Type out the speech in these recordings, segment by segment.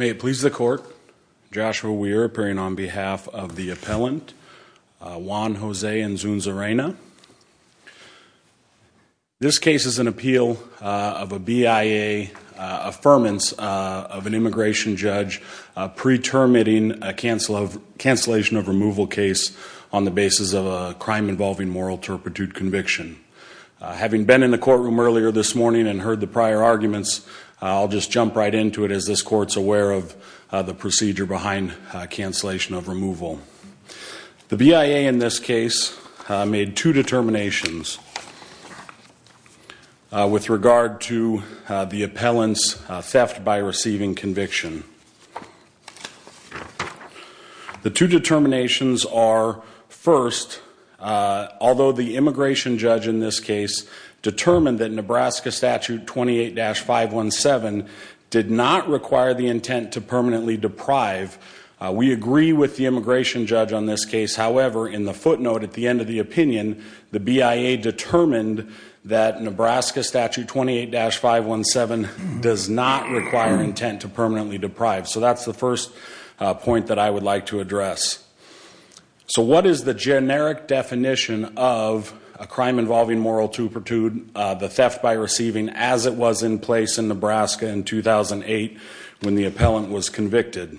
May it please the court, Joshua Weir appearing on behalf of the appellant Juan Jose Inzunza Reyna. This case is an appeal of a BIA affirmance of an immigration judge pretermiting a cancellation of removal case on the basis of a crime involving moral turpitude conviction. Having been in the courtroom earlier this morning and heard the prior arguments, I'll just jump right into it as this court's aware of the procedure behind cancellation of removal. The BIA in this case made two determinations with regard to the appellant's theft by receiving conviction. The two determinations are first, although the immigration judge in this case determined that Nebraska statute 28-517 did not require the intent to permanently deprive, we agree with the immigration judge on this case, however, in the footnote at the end of the opinion the BIA determined that Nebraska statute 28-517 does not require intent to permanently deprive. So that's the first point that I would like to address. So what is the generic definition of a crime involving moral turpitude, the theft by receiving, as it was in place in Nebraska in 2008 when the appellant was convicted.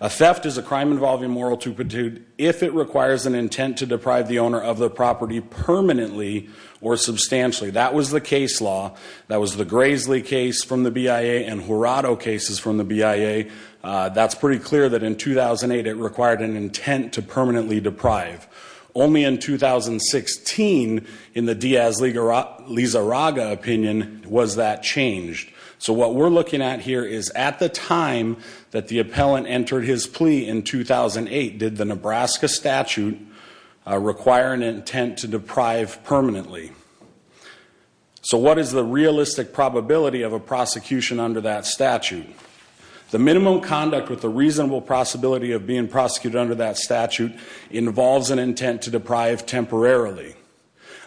A theft is a crime involving moral turpitude if it requires an intent to deprive the owner of the property permanently or substantially. That was the case law. That was the Grasley case from the BIA and Jurado cases from the BIA. That's pretty clear that in 2008 it required an intent to permanently deprive. Only in So what we're looking at here is at the time that the appellant entered his plea in 2008 did the Nebraska statute require an intent to deprive permanently. So what is the realistic probability of a prosecution under that statute? The minimum conduct with a reasonable possibility of being prosecuted under that statute involves an intent to deprive temporarily.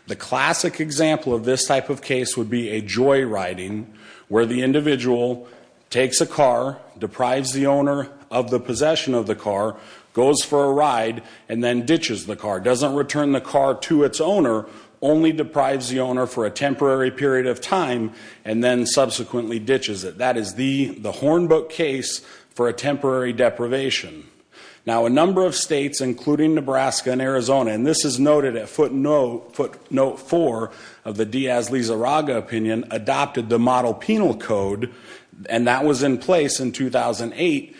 The classic example of this type of case would be a joyriding where the individual takes a car, deprives the owner of the possession of the car, goes for a ride, and then ditches the car. Doesn't return the car to its owner, only deprives the owner for a temporary period of time, and then subsequently ditches it. That is the Hornbook case for a temporary deprivation. Now a number of states, including Nebraska and Arizona, and this is noted at footnote four of the Diaz-Lizarraga opinion, adopted the model penal code, and that was in place in 2008.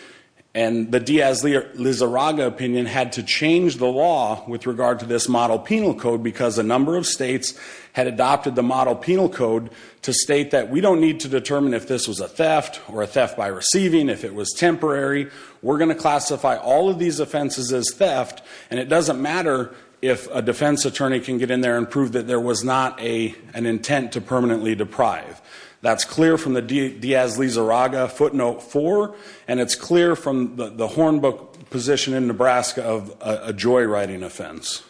And the Diaz-Lizarraga opinion had to change the law with regard to this model penal code because a number of states had adopted the model penal code to state that we don't need to determine if this was a theft or a theft by receiving, if it was temporary. We're going to classify all of these offenses as theft, and it doesn't matter if a defense attorney can get in there and prove that there was not an intent to permanently deprive. That's clear from the Diaz-Lizarraga footnote four, and it's clear from the Hornbook position in Nebraska of a joyriding offense.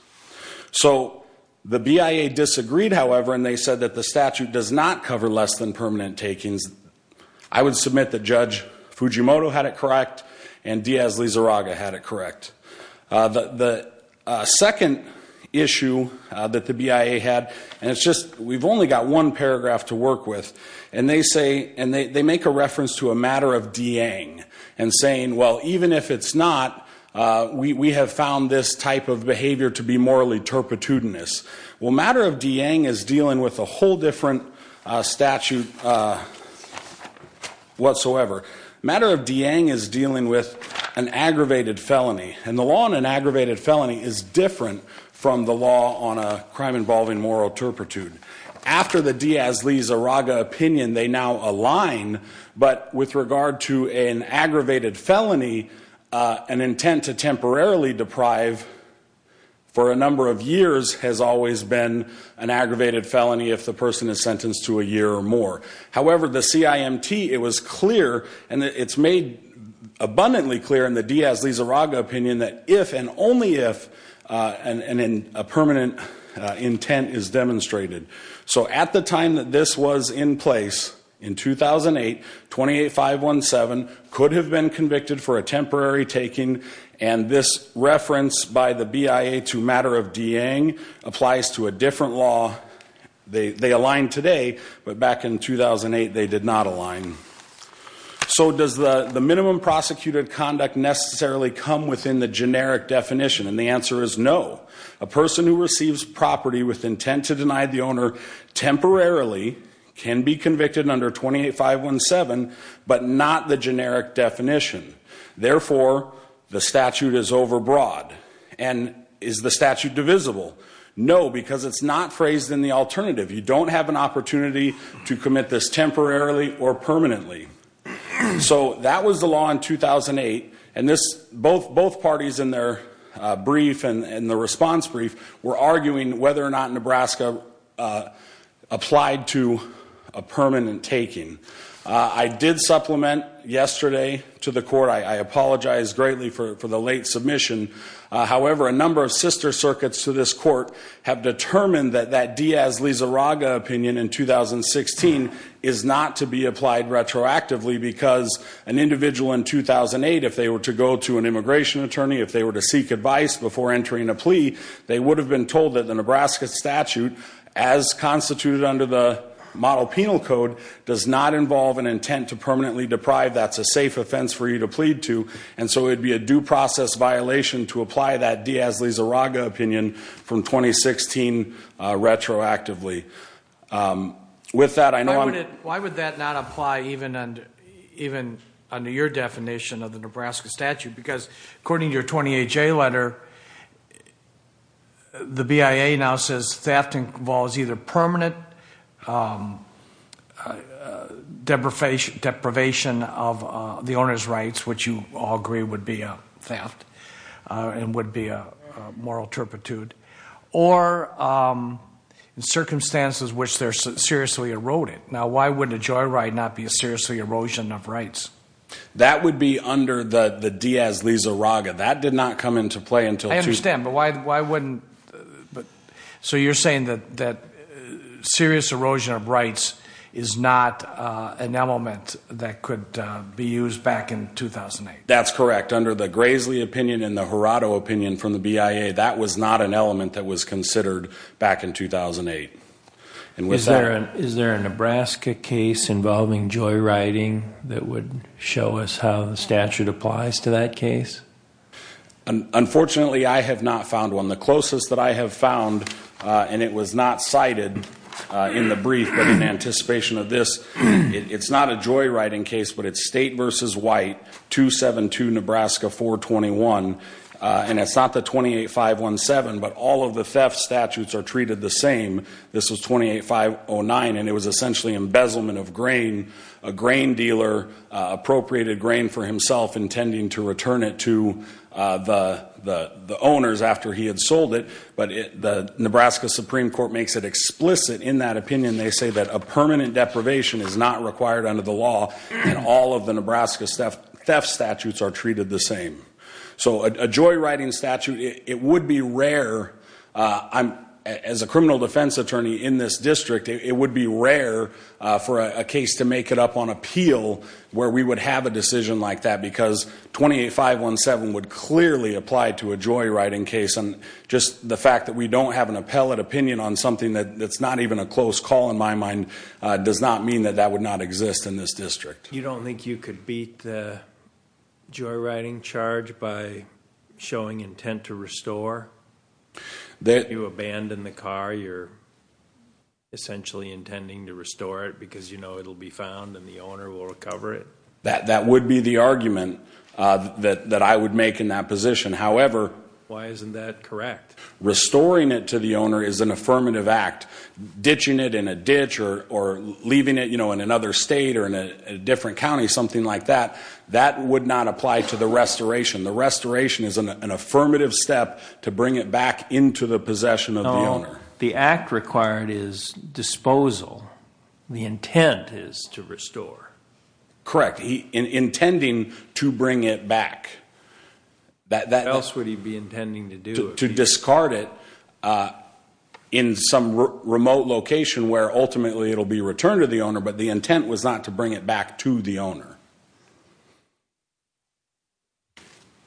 So the BIA disagreed, however, and they said that the statute does not cover less than permanent takings. I would submit that Judge Fujimoto had it correct, and Diaz-Lizarraga had it correct. The second issue that the BIA had, and it's just, we've only got one paragraph to work with, and they say, and they make a reference to a matter of deang and saying, well, even if it's not, we have found this type of behavior to be morally turpitudinous. Well, matter of deang is dealing with a whole different statute whatsoever. Matter of deang is dealing with an aggravated felony, and the law on an aggravated felony is different from the law on a crime involving moral turpitude. After the Diaz-Lizarraga opinion, they now align, but with regard to an aggravated felony, an intent to temporarily deprive for a number of years has always been an aggravated felony if the person is sentenced to a year or more. However, the CIMT, it was clear, and it's made abundantly clear in the Diaz-Lizarraga opinion that if and only if a permanent intent is demonstrated. So at the time that this was in place, in 2008, 28-517 could have been convicted for a temporary taking, and this reference by the BIA to matter of deang applies to a different law. They align today, but back in 2008, they did not align. So does the minimum prosecuted conduct necessarily come within the generic definition? And the answer is no. A person who receives property with intent to deny the owner temporarily can be convicted under 28-517, but not the generic definition. Therefore, the statute is overbroad. And is the statute divisible? No, because it's not phrased in the alternative. You don't have an opportunity to commit this temporarily or permanently. So that was the law in 2008, and this, both parties in their brief and the response brief were arguing whether or not Nebraska applied to a permanent taking. I did supplement yesterday to the court. I apologize greatly for the late submission. However, a number of sister circuits to this court have determined that that Diaz-Lizarraga opinion in 2016 is not to be applied retroactively because an individual in 2008, if they were to go to an immigration attorney, if they were to seek advice before entering a plea, they would have been told that the Nebraska statute, as constituted under the model penal code, does not involve an intent to permanently deprive. That's a safe offense for you to plead to. And so it'd be a due process violation to apply that Diaz-Lizarraga opinion from 2016 retroactively. With that, I know I'm... Why would that not apply even under your definition of the Nebraska statute? Because according to your 20HA letter, the BIA now says theft involves either permanent deprivation of the owner's rights, which you all agree would be a theft and would be a moral turpitude, or in circumstances in which they're seriously eroded. Now, why would a joyride not be a seriously erosion of rights? That would be under the Diaz-Lizarraga. That did not come into play I understand, but why wouldn't... So you're saying that serious erosion of rights is not an element that could be used back in 2008? That's correct. Under the Grasley opinion and the Jurado opinion from the BIA, that was not an element that was considered back in 2008. Is there a Nebraska case involving joyriding that would show us how the statute applies to that case? Unfortunately, I have not found one. The closest that I have found, and it was not cited in the brief, but in anticipation of this, it's not a joyriding case, but it's State v. White, 272 Nebraska 421, and it's not the 28517, but all of the theft statutes are treated the same. This was 28509, and it was essentially embezzlement of grain. A grain dealer appropriated grain for himself intending to return it to the owners after he had sold it, but the Nebraska Supreme Court makes it explicit in that opinion. They say that a permanent deprivation is not required under the law, and all of the Nebraska theft statutes are treated the same. So a joyriding statute, it would be rare, as a criminal defense attorney in this case, to make it up on appeal where we would have a decision like that because 28517 would clearly apply to a joyriding case, and just the fact that we don't have an appellate opinion on something that's not even a close call in my mind does not mean that that would not exist in this district. You don't think you could beat the joyriding charge by showing intent to restore? That you abandon the car, you're essentially intending to restore it because you know it'll be found and the owner will recover it? That would be the argument that I would make in that position. However, why isn't that correct? Restoring it to the owner is an affirmative act. Ditching it in a ditch or leaving it, you know, in another state or in a different county, something like that, that would not apply to the restoration. The restoration is an intent to bring it back into the possession of the owner. No, the act required is disposal. The intent is to restore. Correct. Intending to bring it back. What else would he be intending to do? To discard it in some remote location where ultimately it'll be returned to the owner, but the intent was not to bring it back to the owner.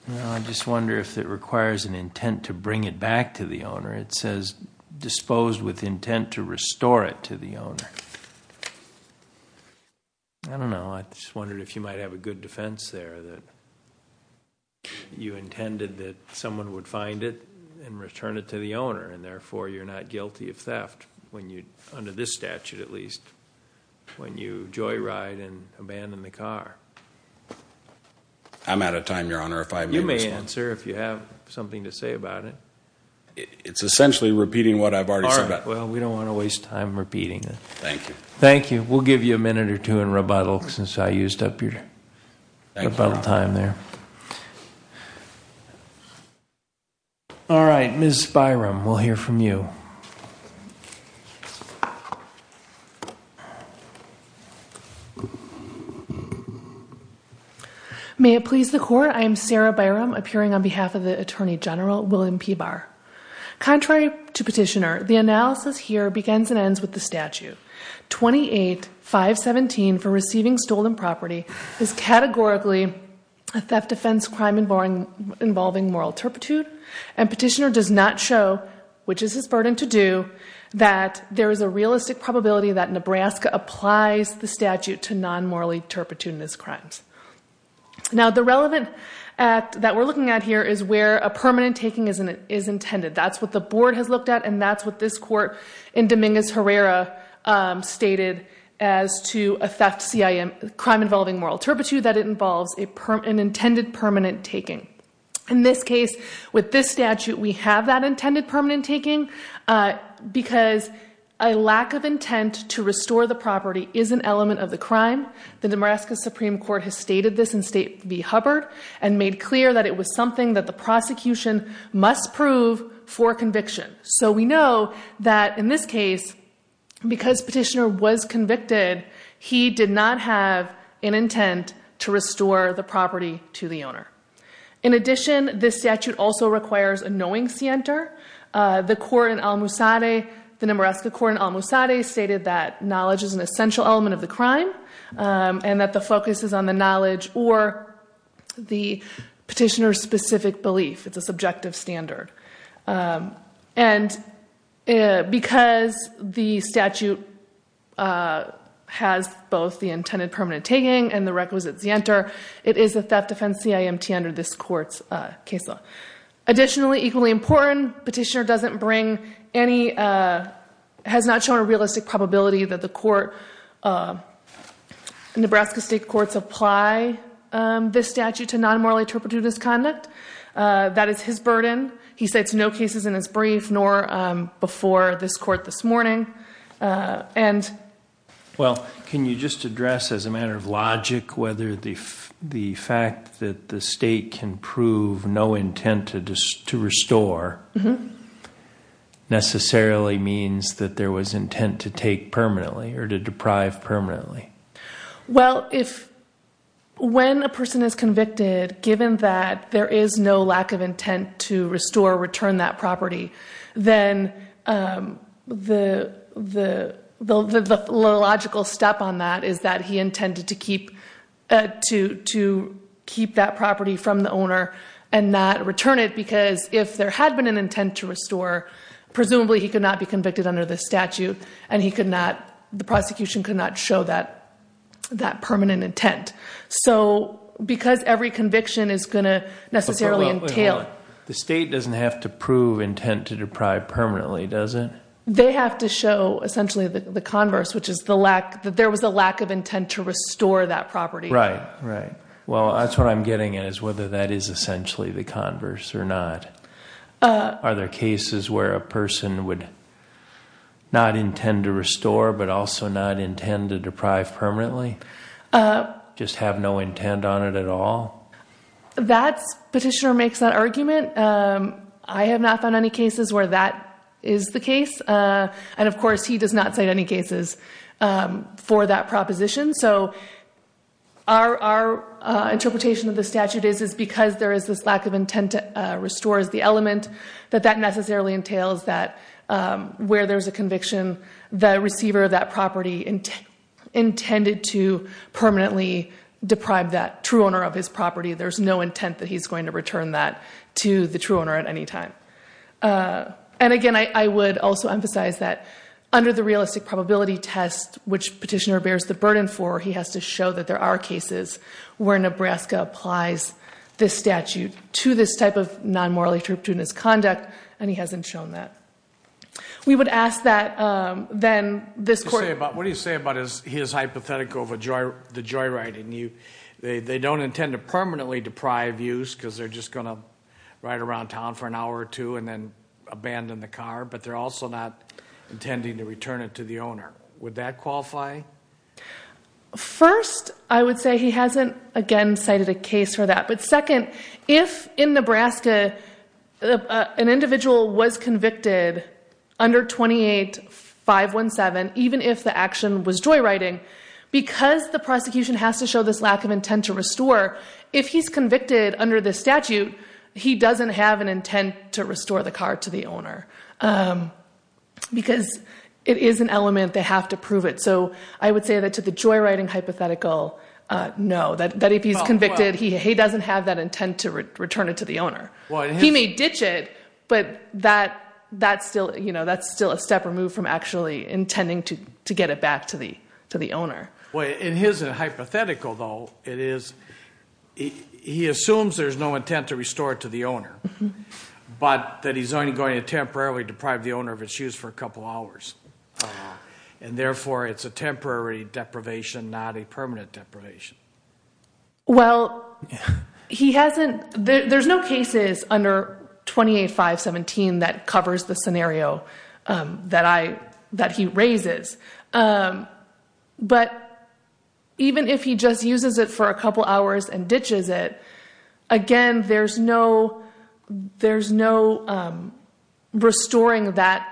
I just wonder if it requires an intent to bring it back to the owner. It says disposed with intent to restore it to the owner. I don't know. I just wondered if you might have a good defense there that you intended that someone would find it and return it to the owner and therefore you're not guilty of theft when you, under this statute at least, when you joyride and abandon the car. I'm out of time, your honor. You may answer if you have something to say about it. It's essentially repeating what I've already said. Well, we don't want to waste time repeating it. Thank you. Thank you. We'll give you a minute or two in rebuttal since I used up your time there. All right, Ms. Byram, we'll hear from you. May it please the court, I am Sarah Byram appearing on behalf of the Attorney General William P. Barr. Contrary to Petitioner, the analysis here begins and ends with the statute. 28-517 for receiving stolen property is categorically a theft, offense, crime involving moral turpitude and Petitioner does not show, which is his burden to do, that there is a Now, the relevant act that we're looking at here is where a permanent taking is intended. That's what the board has looked at and that's what this court in Dominguez-Herrera stated as to a theft CIM, crime involving moral turpitude, that it involves an intended permanent taking. In this case, with this statute, we have that intended permanent taking because a lack of intent to stated this in State v. Hubbard and made clear that it was something that the prosecution must prove for conviction. So we know that in this case, because Petitioner was convicted, he did not have an intent to restore the property to the owner. In addition, this statute also requires a knowing scienter. The court in Al-Musadeh, the Namaraska court in Al-Musadeh stated that knowledge is an essential element of the crime and that the focus is on the knowledge or the Petitioner's specific belief. It's a subjective standard. And because the statute has both the intended permanent taking and the requisite scienter, it is a theft offense CIMT under this court's case law. Additionally, equally important, Petitioner doesn't bring any, has not shown a realistic probability that the court in Nebraska State courts apply this statute to non-morally interpreted misconduct. That is his burden. He states no cases in his brief nor before this court this morning. Well, can you just address as a matter of logic, whether the fact that the state can prove no intent to restore necessarily means that there was intent to take permanently or to deprive permanently? Well, if when a person is convicted, given that there is no lack of intent to restore return that property, then the logical step on that is that he intended to keep that property from the owner and not return it because if there had been an intent to restore, presumably he could not be convicted under the statute and he could not, the prosecution could not show that that permanent intent. So because every conviction is going to necessarily entail... The state doesn't have to prove intent to deprive permanently, does it? They have to show essentially the converse, which is the lack that there was a lack of intent to restore that property. Right, right. Well, that's what I'm getting at is whether that is essentially the converse or not. Are there cases where a person would not intend to restore, but also not intend to deprive permanently? Just have no intent on it at all? That's... Petitioner makes that argument. I have not found any cases where that is the case and of course he does not cite any cases for that proposition. So our interpretation of the statute is because there is this lack of intent to restore as the element, that that necessarily entails that where there's a conviction, the receiver of that property intended to permanently deprive that true owner of his property. There's no intent that he's going to return that to the true owner at any time. And again, I would also emphasize that under the realistic probability test, which petitioner bears the burden for, he has to show that there are cases where Nebraska applies this statute to this type of non-morally trepidatious conduct and he hasn't shown that. We would ask that then this court... What do you say about his hypothetical of the joyriding? They don't intend to permanently deprive use because they're just going to ride around town for an hour or two and then abandon the car, but they're also not intending to return it to the owner. Would that if in Nebraska, an individual was convicted under 28-517, even if the action was joyriding, because the prosecution has to show this lack of intent to restore, if he's convicted under the statute, he doesn't have an intent to restore the car to the owner. Because it is an element, they have to prove it. So I would say that to the joyriding hypothetical, no, that if he's return it to the owner. He may ditch it, but that's still a step removed from actually intending to get it back to the owner. In his hypothetical though, he assumes there's no intent to restore it to the owner, but that he's only going to temporarily deprive the owner of its use for a couple hours. And therefore, it's a temporary deprivation, not a permanent deprivation. Well, there's no cases under 28-517 that covers the scenario that he raises. But even if he just uses it for a couple hours and ditches it, again, there's no restoring that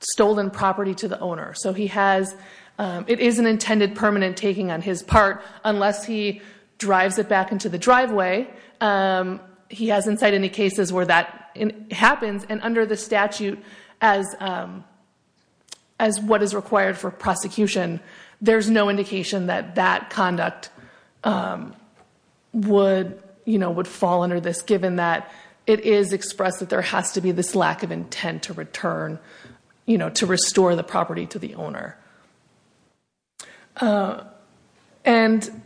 stolen property to the owner. So it is an intended permanent taking on his part, unless he drives it back into the driveway. He hasn't said any cases where that happens. And under the statute, as what is required for prosecution, there's no indication that that conduct would fall under this, given that it is expressed that there has to be this intent to return, to restore the property to the owner. And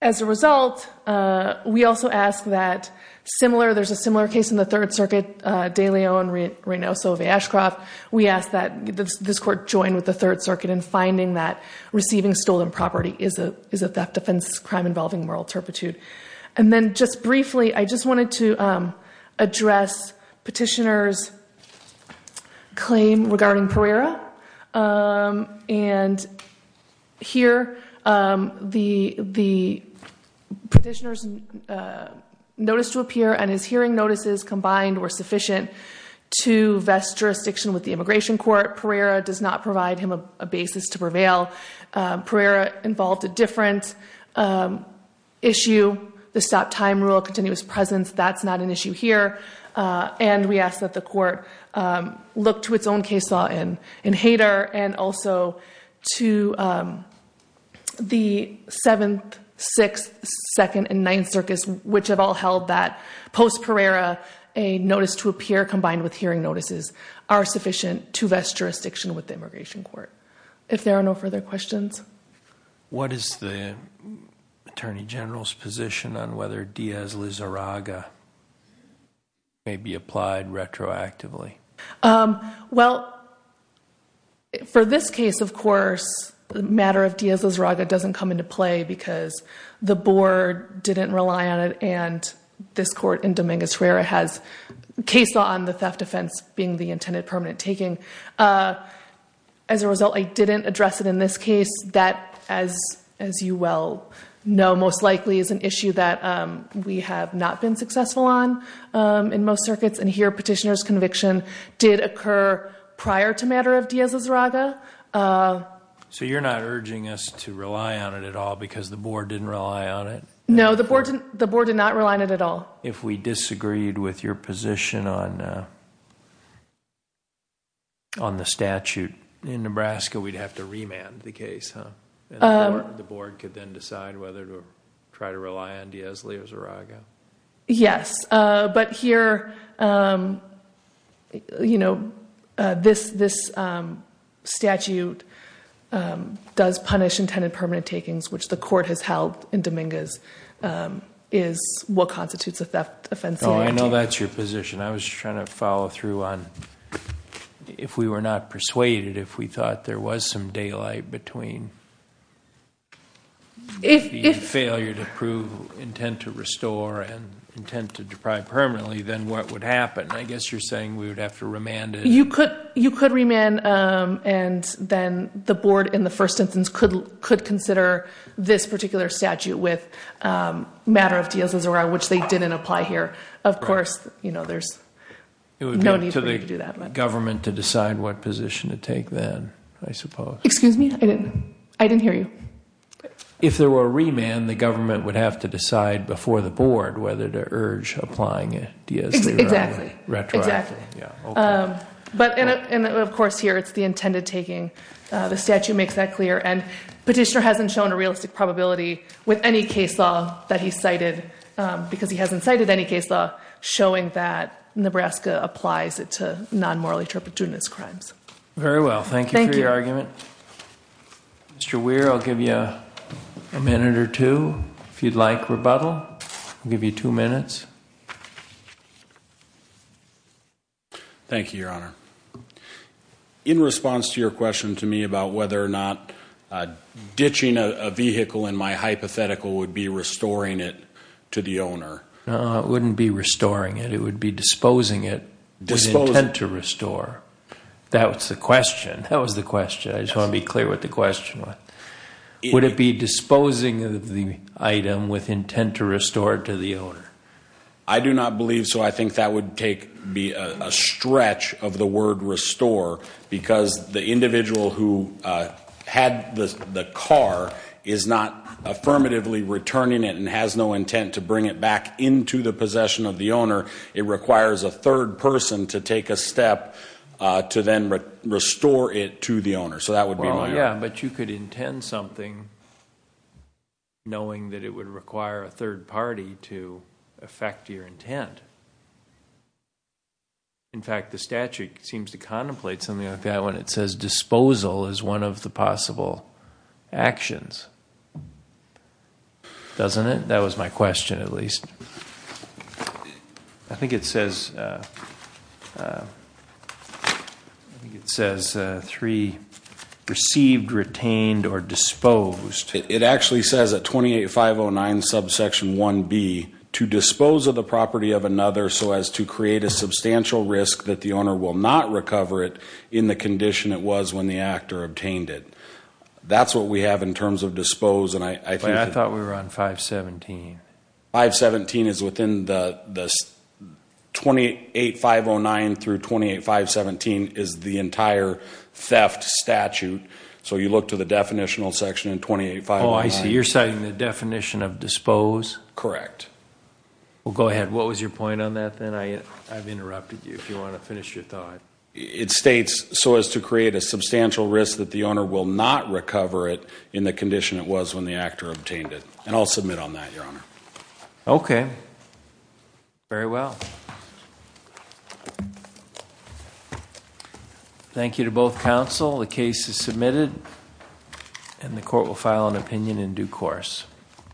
as a result, we also ask that similar, there's a similar case in the Third Circuit, DeLeon Reynoso of Ashcroft. We ask that this court join with the Third Circuit in finding that receiving stolen property is a theft, offense, crime involving moral turpitude. And then just briefly, I just wanted to address petitioner's claim regarding Pereira. And here, the petitioner's notice to appear and his hearing notices combined were sufficient to vest jurisdiction with the Immigration Court. Pereira does not provide him a basis to prevail. Pereira involved a different issue. The stop time rule, continuous presence, that's not an issue here. And we ask that the court look to its own case law in Hayter and also to the Seventh, Sixth, Second, and Ninth Circus, which have all held that post-Pereira, a notice to appear combined with hearing notices are sufficient to vest jurisdiction with the Immigration Court. If there are no further questions. What is the Attorney General's position on whether Diaz-Lizarraga may be applied retroactively? Well, for this case, of course, the matter of Diaz-Lizarraga doesn't come into play because the board didn't rely on it. And this court in Dominguez-Ruera has case law on the theft offense being the intended permanent taking. As a result, I didn't address it in this case. That, as you well know, most likely is an issue that we have not been successful on in most circuits. And here, petitioner's conviction did occur prior to matter of Diaz-Lizarraga. So you're not urging us to rely on it at all because the board didn't rely on it? No, the board did not rely on it at all. If we disagreed with your position on the statute. In Nebraska, we'd have to remand the case, huh? The board could then decide whether to try to rely on Diaz-Lizarraga. Yes, but here, you know, this statute does punish intended permanent takings, which the court has held in Dominguez is what constitutes a theft offense law. I know that's your position. I was trying to follow through on if we were not persuaded, if we thought there was some daylight between failure to prove intent to restore and intent to deprive permanently, then what would happen? I guess you're saying we would have to remand it. You could remand and then the board in the first instance could consider this particular statute with matter of Diaz-Lizarraga, which they didn't apply here. Of course, you know, there's no need for you to do that. It would be up to the government to decide what position to take then, I suppose. Excuse me? I didn't hear you. If there were a remand, the government would have to decide before the board whether to urge applying Diaz-Lizarraga. Exactly. Of course, here, it's the intended taking. The statute makes that clear. Petitioner hasn't shown a realistic probability with any case law that he cited because he hasn't cited any case law showing that Nebraska applies it to non-morally trepidatious crimes. Very well. Thank you for your argument. Mr. Weir, I'll give you a minute or two if you'd like rebuttal. I'll give you two minutes. Thank you, Your Honor. In response to your question to me about whether or not ditching a vehicle in my hypothetical would be restoring it to the owner. No, it wouldn't be restoring it. It would be disposing it with intent to restore. That was the question. I just want to be clear what the question was. Would it be disposing of the item with intent to restore it to the owner? I do not believe so. I think that would be a stretch of the word restore because the individual who had the car is not affirmatively returning it and has no intent to bring it back into the possession of the owner. It requires a third person to take a step to then restore it to the owner. That would be my argument. But you could intend something knowing that it would require a third party to affect your intent. In fact, the statute seems to contemplate something like that when it says disposal is one of the possible actions. Doesn't it? That was my question at least. I think it says three, received, retained, or disposed. It actually says at 28.509 subsection 1b to dispose of the property of another so as to create a substantial risk that the owner will not recover it in the condition it was when the actor obtained it. That's what we have in terms of dispose. But I thought we were on 517. 517 is within the 28.509 through 28.517 is the entire theft statute. So you look to the definitional section in 28.509. Oh, I see. You're citing the definition of dispose? Correct. Well, go ahead. What was your point on that then? I've interrupted you if you want to finish your thought. It states so as to create a substantial risk that the owner will not recover it in the Okay. Very well. Thank you to both counsel. The case is submitted and the court will file an opinion in due course.